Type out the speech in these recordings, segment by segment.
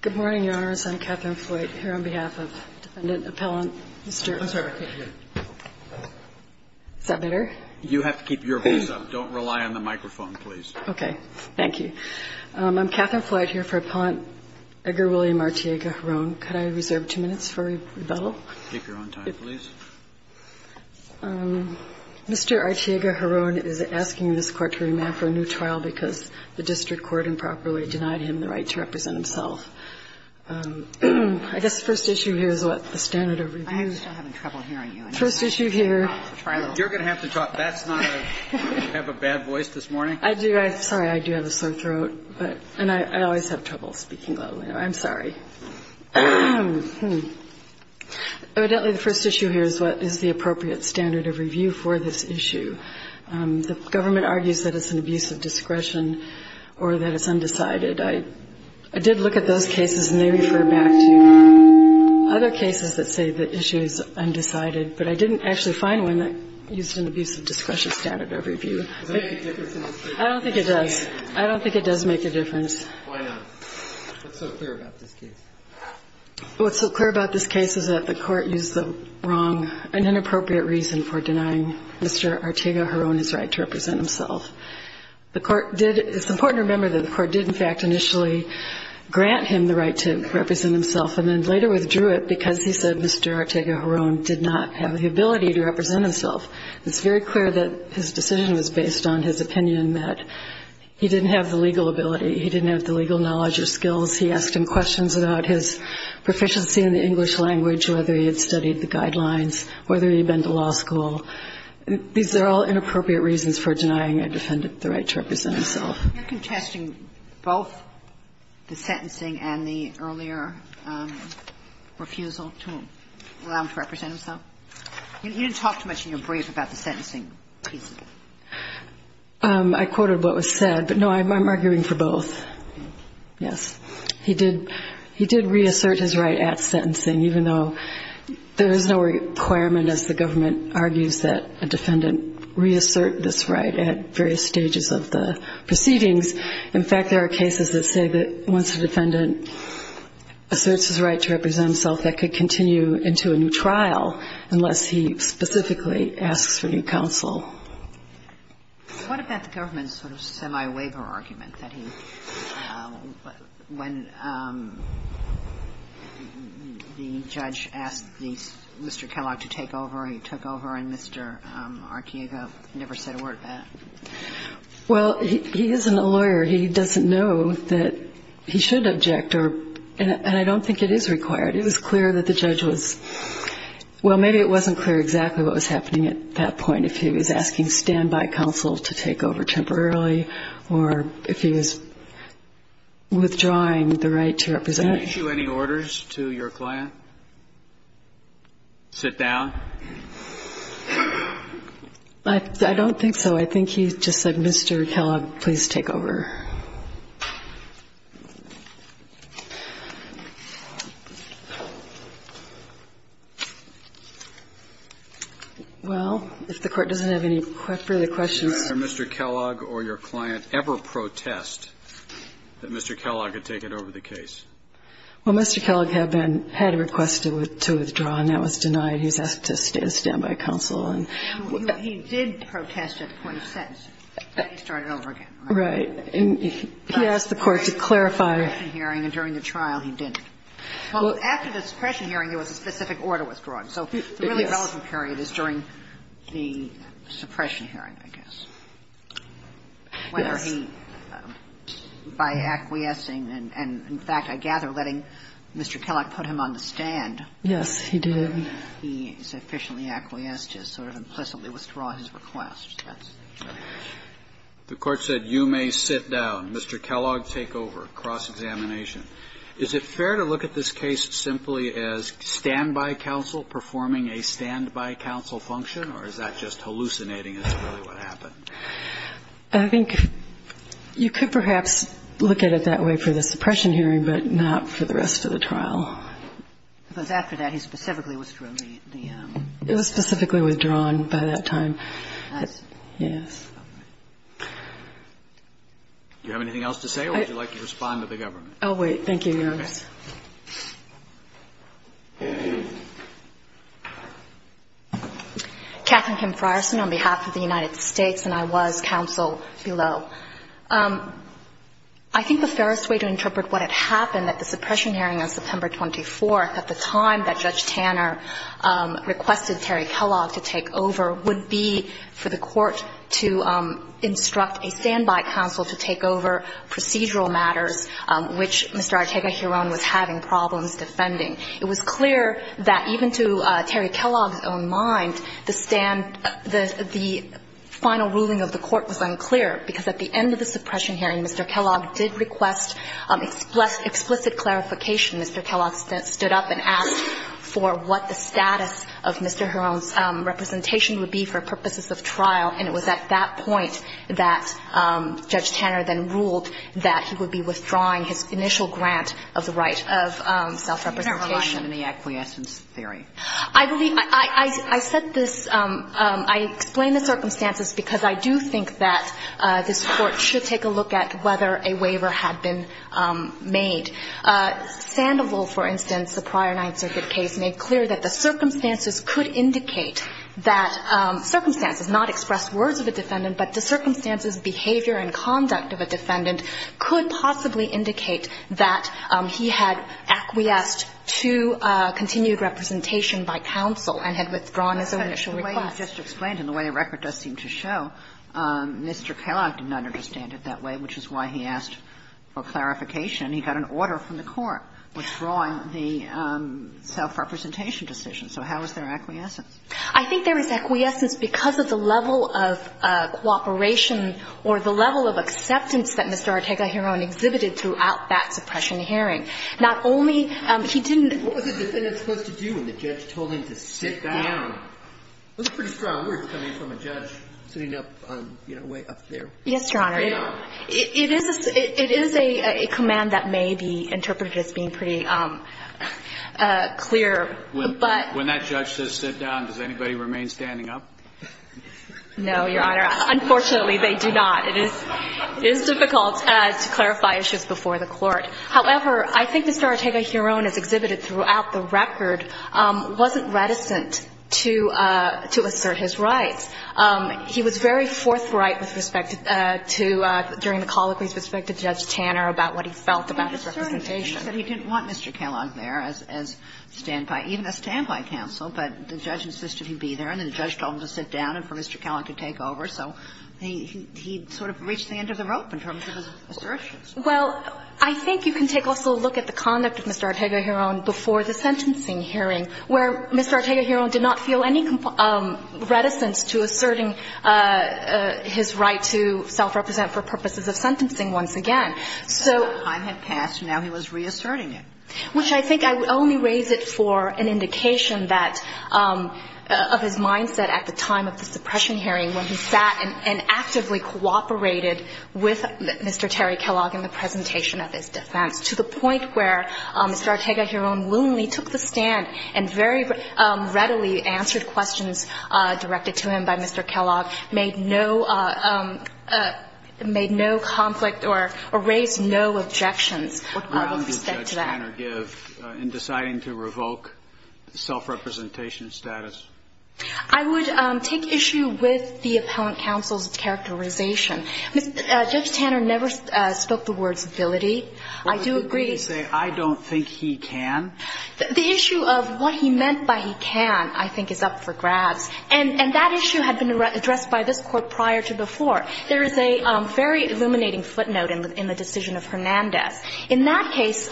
Good morning, Your Honors. I'm Katherine Floyd. I'm Katherine Floyd here for Appellant Edgar William Arteaga-Giron. Could I reserve two minutes for rebuttal? THE COURT Mr. Arteaga-Giron is asking this Court to remand for a new trial because the District Court improperly denied him the right to represent himself. I guess the first issue here is what the standard of review is. I'm still having trouble hearing you. The first issue here. You're going to have to talk. That's not a – you have a bad voice this morning. I do. I'm sorry. I do have a sore throat, but – and I always have trouble speaking loudly. I'm sorry. Evidently, the first issue here is what is the appropriate standard of review for this issue. The government argues that it's an abuse of discretion or that it's undecided. I did look at those cases, and they refer back to other cases that say the issue is undecided. But I didn't actually find one that used an abuse of discretion standard of review. Does that make a difference in this case? I don't think it does. I don't think it does make a difference. Why not? What's so clear about this case? What's so clear about this case is that the Court used the wrong and inappropriate reason for denying Mr. Arteaga-Giron his right to represent himself. The Court did – it's important to remember that the Court did, in fact, initially grant him the right to represent himself and then later withdrew it because he said Mr. Arteaga-Giron did not have the ability to represent himself. It's very clear that his decision was based on his opinion that he didn't have the legal ability. He didn't have the legal knowledge or skills. He asked him questions about his proficiency in the English language, whether he had studied the guidelines, whether he had been to law school. These are all inappropriate reasons for denying a defendant the right to represent himself. You're contesting both the sentencing and the earlier refusal to allow him to represent himself? You didn't talk too much in your brief about the sentencing piece. I quoted what was said. But, no, I'm arguing for both, yes. He did reassert his right at sentencing, even though there is no requirement, as the government argues, that a defendant reassert this right at various stages of the proceedings. In fact, there are cases that say that once a defendant asserts his right to represent himself, that could continue into a new trial unless he specifically asks for new counsel. What about the government's sort of semi-waiver argument that he, when the judge asked Mr. Kellogg to take over, he took over and Mr. Archiega never said a word about it? Well, he isn't a lawyer. He doesn't know that he should object, and I don't think it is required. It was clear that the judge was – well, maybe it wasn't clear exactly what was happening at that point, if he was asking standby counsel to take over temporarily or if he was withdrawing the right to represent. Did he issue any orders to your client? Sit down? I don't think so. I think he just said, Mr. Kellogg, please take over. Well, if the Court doesn't have any further questions. Did Mr. Kellogg or your client ever protest that Mr. Kellogg had taken over the case? Well, Mr. Kellogg had been – had requested to withdraw, and that was denied. He was asked to stand by counsel. He did protest at the point of sentence. He started over again. Right. He asked the Court to clarify. During the suppression hearing and during the trial, he didn't. Well, after the suppression hearing, there was a specific order withdrawing. So the really relevant period is during the suppression hearing, I guess. Yes. By acquiescing and, in fact, I gather letting Mr. Kellogg put him on the stand. Yes, he did. He sufficiently acquiesced to sort of implicitly withdraw his request. The Court said, you may sit down. Mr. Kellogg, take over. Cross-examination. Is it fair to look at this case simply as stand-by counsel performing a stand-by counsel function, or is that just hallucinating is really what happened? I think you could perhaps look at it that way for the suppression hearing, but not for the rest of the trial. Because after that, he specifically withdrew the – the – It was specifically withdrawn by that time. Yes. All right. Do you have anything else to say, or would you like to respond to the government? Oh, wait. Thank you, Your Honor. Catherine Kim Frierson on behalf of the United States, and I was counsel below. I think the fairest way to interpret what had happened at the suppression hearing on September 24th at the time that Judge Tanner requested Terry Kellogg to take over would be for the Court to instruct a stand-by counsel to take over procedural matters which Mr. Ortega-Huron was having problems defending. It was clear that even to Terry Kellogg's own mind, the stand – the final ruling of the Court was unclear, because at the end of the suppression hearing, Mr. Kellogg did request explicit clarification. Mr. Kellogg stood up and asked for what the status of Mr. Huron's representation would be for purposes of trial. And it was at that point that Judge Tanner then ruled that he would be withdrawing his initial grant of the right of self-representation. You're not relying on any acquiescence theory. I believe – I said this – I explain the circumstances because I do think that this Court should take a look at whether a waiver had been made. Sandoval, for instance, the prior Ninth Circuit case, made clear that the circumstances could indicate that – circumstances, not express words of a defendant, but the circumstances, behavior and conduct of a defendant could possibly indicate that he had acquiesced to continued representation by counsel and had withdrawn his initial request. Kagan. But the way you just explained and the way the record does seem to show, Mr. Kellogg did not understand it that way, which is why he asked for clarification. He got an order from the Court withdrawing the self-representation decision. So how is there acquiescence? I think there is acquiescence because of the level of cooperation or the level of acceptance that Mr. Ortega-Huron exhibited throughout that suppression hearing. Not only he didn't – What was a defendant supposed to do when the judge told him to sit down? Those are pretty strong words coming from a judge sitting up on, you know, way up there. Yes, Your Honor. It is a command that may be interpreted as being pretty clear, but – When that judge says sit down, does anybody remain standing up? No, Your Honor. Unfortunately, they do not. It is difficult to clarify issues before the Court. However, I think Mr. Ortega-Huron, as exhibited throughout the record, wasn't reticent to assert his rights. He was very forthright with respect to – during the colloquy with respect to Judge Tanner about what he felt about his representation. He said he didn't want Mr. Kellogg there as stand-by – even a stand-by counsel. But the judge insisted he be there. And then the judge told him to sit down and for Mr. Kellogg to take over. So he sort of reached the end of the rope in terms of his assertions. Well, I think you can take also a look at the conduct of Mr. Ortega-Huron before the sentencing hearing, where Mr. Ortega-Huron did not feel any reticence to asserting his right to self-represent for purposes of sentencing once again. So the time had passed, and now he was reasserting it. Which I think I would only raise it for an indication that – of his mindset at the time of the suppression hearing when he sat and actively cooperated with Mr. Terry Kellogg in the presentation of his defense, to the point where Mr. Ortega-Huron, when he took the stand and very readily answered questions directed to him by Mr. Kellogg, made no – made no conflict or raised no objections. What ground would Judge Tanner give in deciding to revoke self-representation status? I would take issue with the appellant counsel's characterization. Judge Tanner never spoke the words ability. I do agree to say I don't think he can. The issue of what he meant by he can, I think, is up for grabs. And that issue had been addressed by this Court prior to before. There is a very illuminating footnote in the decision of Hernandez. In that case,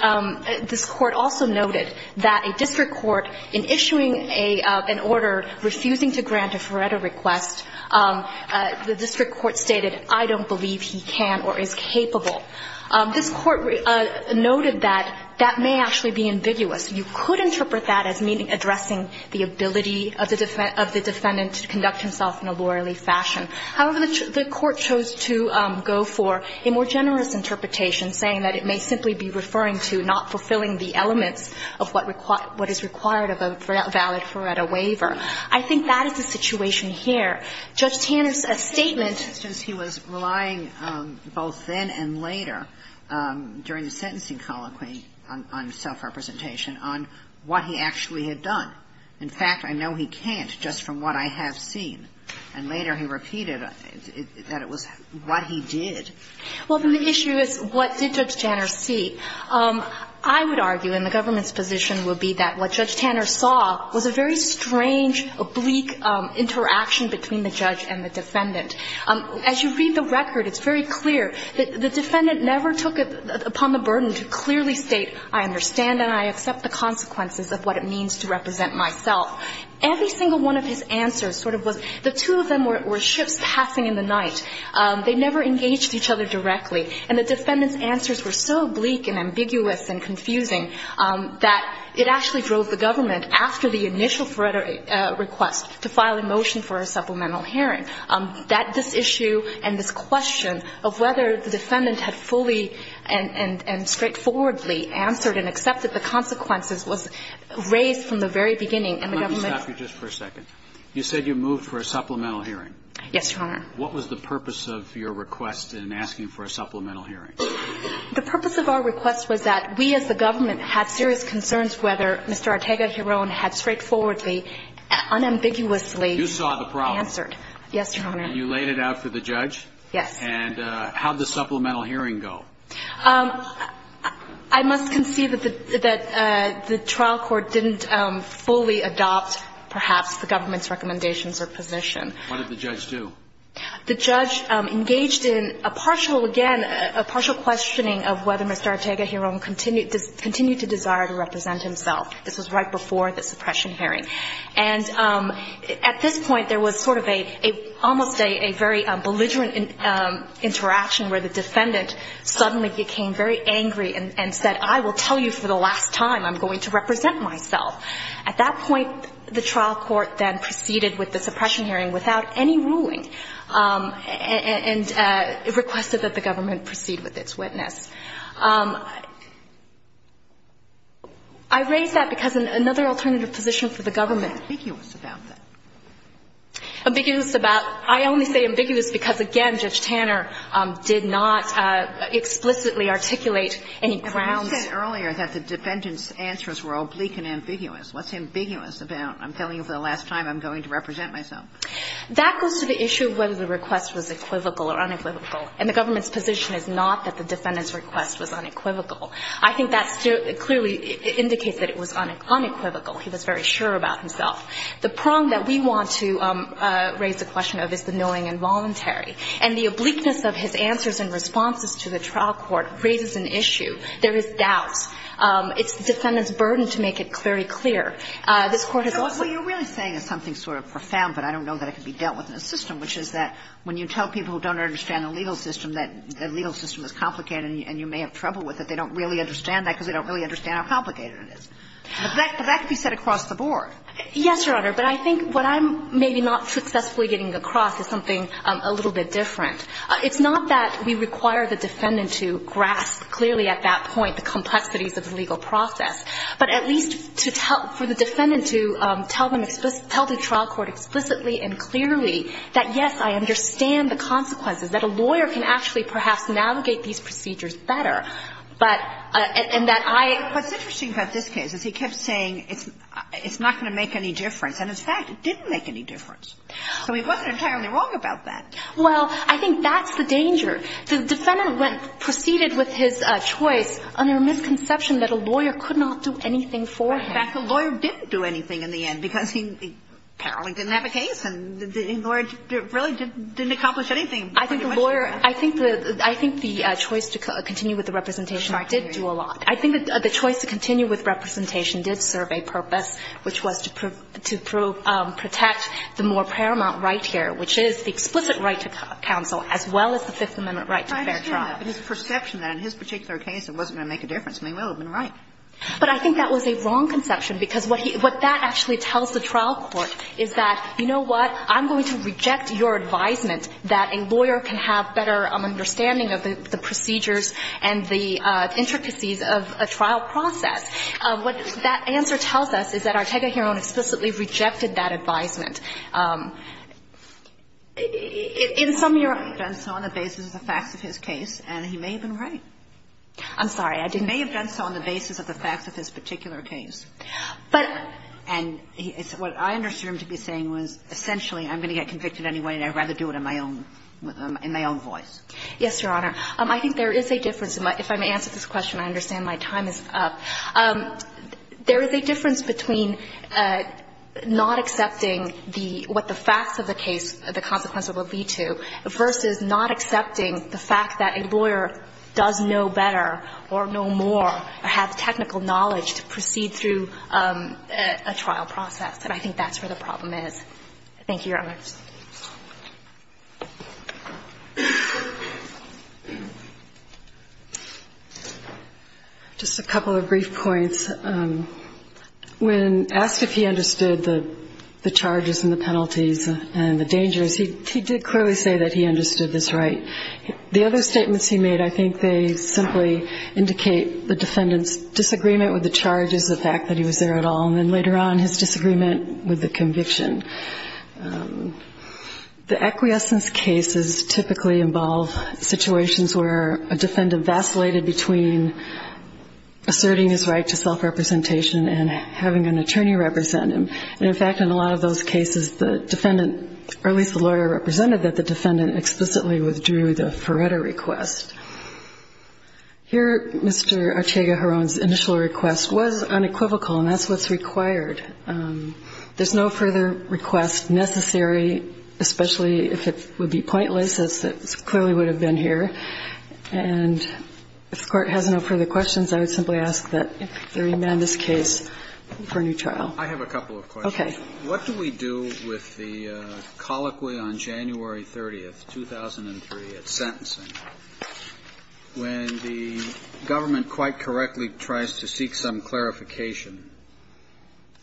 this Court also noted that a district court, in issuing an order refusing to grant a Feretta request, the district court stated, I don't believe he can or is capable. This Court noted that that may actually be ambiguous. You could interpret that as meaning addressing the ability of the defendant to conduct himself in a lawyerly fashion. However, the Court chose to go for a more generous interpretation, saying that it may simply be referring to not fulfilling the elements of what is required of a valid Feretta waiver. I think that is the situation here. Judge Tanner's statement – I think it was later, during the sentencing colloquy on self-representation – on what he actually had done. In fact, I know he can't just from what I have seen. And later he repeated that it was what he did. Well, then the issue is what did Judge Tanner see? I would argue, and the government's position would be that what Judge Tanner saw was a very strange, oblique interaction between the judge and the defendant. As you read the record, it's very clear that the defendant never took it upon the burden to clearly state, I understand and I accept the consequences of what it means to represent myself. Every single one of his answers sort of was – the two of them were ships passing in the night. They never engaged each other directly. And the defendant's answers were so bleak and ambiguous and confusing that it actually drove the government, after the initial Feretta request, to file a motion for a supplemental hearing. That – this issue and this question of whether the defendant had fully and straightforwardly answered and accepted the consequences was raised from the very beginning, and the government – Let me stop you just for a second. You said you moved for a supplemental hearing. Yes, Your Honor. What was the purpose of your request in asking for a supplemental hearing? The purpose of our request was that we as the government had serious concerns whether Mr. Ortega-Heron had straightforwardly, unambiguously – You saw the problem. Yes, Your Honor. And you laid it out for the judge? Yes. And how did the supplemental hearing go? I must concede that the trial court didn't fully adopt, perhaps, the government's recommendations or position. What did the judge do? The judge engaged in a partial – again, a partial questioning of whether Mr. Ortega-Heron continued to desire to represent himself. This was right before the suppression hearing. And at this point, there was sort of almost a very belligerent interaction where the defendant suddenly became very angry and said, I will tell you for the last time I'm going to represent myself. At that point, the trial court then proceeded with the suppression hearing without any ruling and requested that the government proceed with its witness. I raise that because another alternative position for the government – Why ambiguous about that? Ambiguous about – I only say ambiguous because, again, Judge Tanner did not explicitly articulate any grounds – And you said earlier that the defendant's answers were oblique and ambiguous. What's ambiguous about I'm telling you for the last time I'm going to represent myself? That goes to the issue of whether the request was equivocal or unequivocal. And the government's position is not that the defendant's request was unequivocal. I think that clearly indicates that it was unequivocal. He was very sure about himself. The prong that we want to raise the question of is the knowing and voluntary. And the obliqueness of his answers and responses to the trial court raises an issue. There is doubt. It's the defendant's burden to make it very clear. This Court has also – So what you're really saying is something sort of profound, but I don't know that it could be dealt with in a system, which is that when you tell people who don't understand the legal system that the legal system is complicated and you may have trouble with it, they don't really understand that because they don't really understand how complicated it is. But that could be said across the board. Yes, Your Honor. But I think what I'm maybe not successfully getting across is something a little bit different. It's not that we require the defendant to grasp clearly at that point the complexities of the legal process, but at least to tell – for the defendant to tell them – tell the trial court explicitly and clearly that, yes, I understand the consequences, that a lawyer can actually perhaps navigate these procedures better. But – and that I – What's interesting about this case is he kept saying it's not going to make any difference. And, in fact, it didn't make any difference. So he wasn't entirely wrong about that. Well, I think that's the danger. The defendant went – proceeded with his choice under a misconception that a lawyer could not do anything for him. In fact, the lawyer didn't do anything in the end because he apparently didn't have a case, and the lawyer really didn't accomplish anything. I think the lawyer – I think the choice to continue with the representation did do a lot. I think the choice to continue with representation did serve a purpose, which was to prove – to protect the more paramount right here, which is the explicit right to counsel as well as the Fifth Amendment right to a fair trial. But his perception that in his particular case it wasn't going to make a difference may well have been right. But I think that was a wrong conception because what he – what that actually tells the trial court is that, you know what, I'm going to reject your advisement that a lawyer can have better understanding of the procedures and the intricacies of a trial process. What that answer tells us is that Ortega-Heron explicitly rejected that advisement. In some – He may have done so on the basis of the facts of his case, and he may have been right. I'm sorry. He may have done so on the basis of the facts of his particular case. But – And what I understood him to be saying was essentially I'm going to get convicted anyway and I'd rather do it in my own – in my own voice. Yes, Your Honor. I think there is a difference. If I may answer this question, I understand my time is up. There is a difference between not accepting the – what the facts of the case, the consequences would lead to, versus not accepting the fact that a lawyer does know better or know more or have technical knowledge to proceed through a trial process. And I think that's where the problem is. Thank you, Your Honor. Just a couple of brief points. When asked if he understood the charges and the penalties and the dangers, he did clearly say that he understood this right. The other statements he made, I think they simply indicate the defendant's disagreement with the charges, the fact that he was there at all, and then later on his disagreement with the conviction. The acquiescence cases typically involve situations where a defendant vacillated between asserting his right to self-representation and having an attorney represent him. And, in fact, in a lot of those cases, the defendant – or at least the lawyer represented that the defendant explicitly withdrew the Ferretta request. Here, Mr. Archega-Jarron's initial request was unequivocal, and that's what's required. There's no further request necessary, especially if it would be pointless, as it clearly would have been here. And if the Court has no further questions, I would simply ask that there remain in this case for a new trial. I have a couple of questions. Okay. What do we do with the colloquy on January 30th, 2003, at sentencing, when the government quite correctly tries to seek some clarification,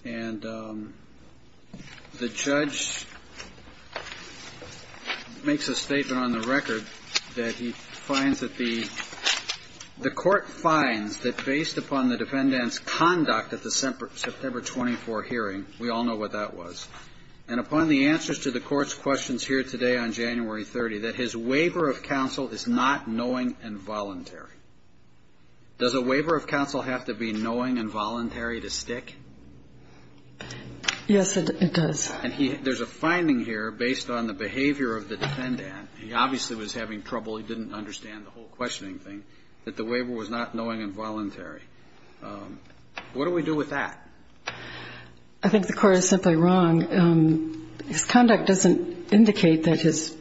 and the judge makes a statement on the record that he finds that the court finds that based upon the answers to the court's questions here today on January 30th, that his waiver of counsel is not knowing and voluntary? Does a waiver of counsel have to be knowing and voluntary to stick? Yes, it does. And there's a finding here based on the behavior of the defendant. He obviously was having trouble. He didn't understand the whole questioning thing, that the waiver was not knowing and voluntary. What do we do with that? I think the Court is simply wrong. His conduct doesn't indicate that his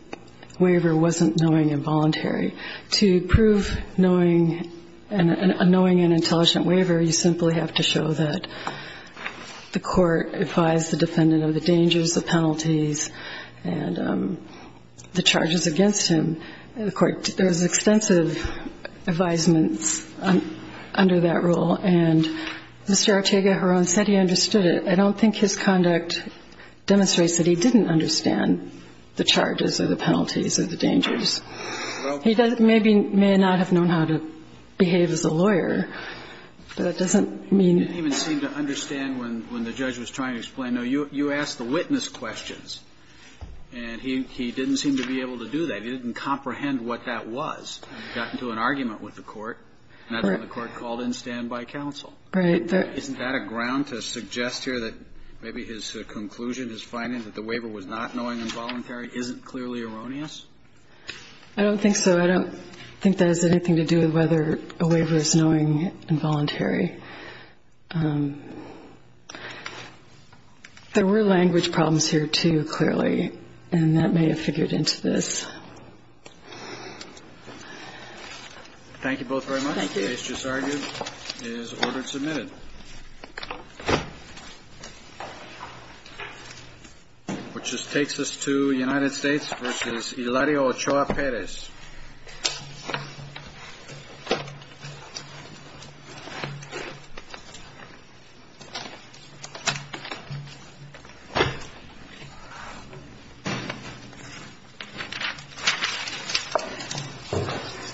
waiver wasn't knowing and voluntary. To prove knowing and an intelligent waiver, you simply have to show that the court advised the defendant of the dangers, the penalties, and the charges against him. And, of course, there was extensive advisements under that rule. And Mr. Ortega-Heron said he understood it. I don't think his conduct demonstrates that he didn't understand the charges or the penalties or the dangers. He maybe may not have known how to behave as a lawyer, but that doesn't mean he didn't even seem to understand when the judge was trying to explain. No, you asked the witness questions, and he didn't seem to be able to do that. He didn't comprehend what that was. I don't think so. I don't think that has anything to do with whether a waiver is knowing and voluntary. There were language problems here, too, clearly, and that may have figured into this. Thank you both very much. Thank you. The case just argued is order submitted, which takes us to United States v. Hilario Ochoa-Perez. Thank you.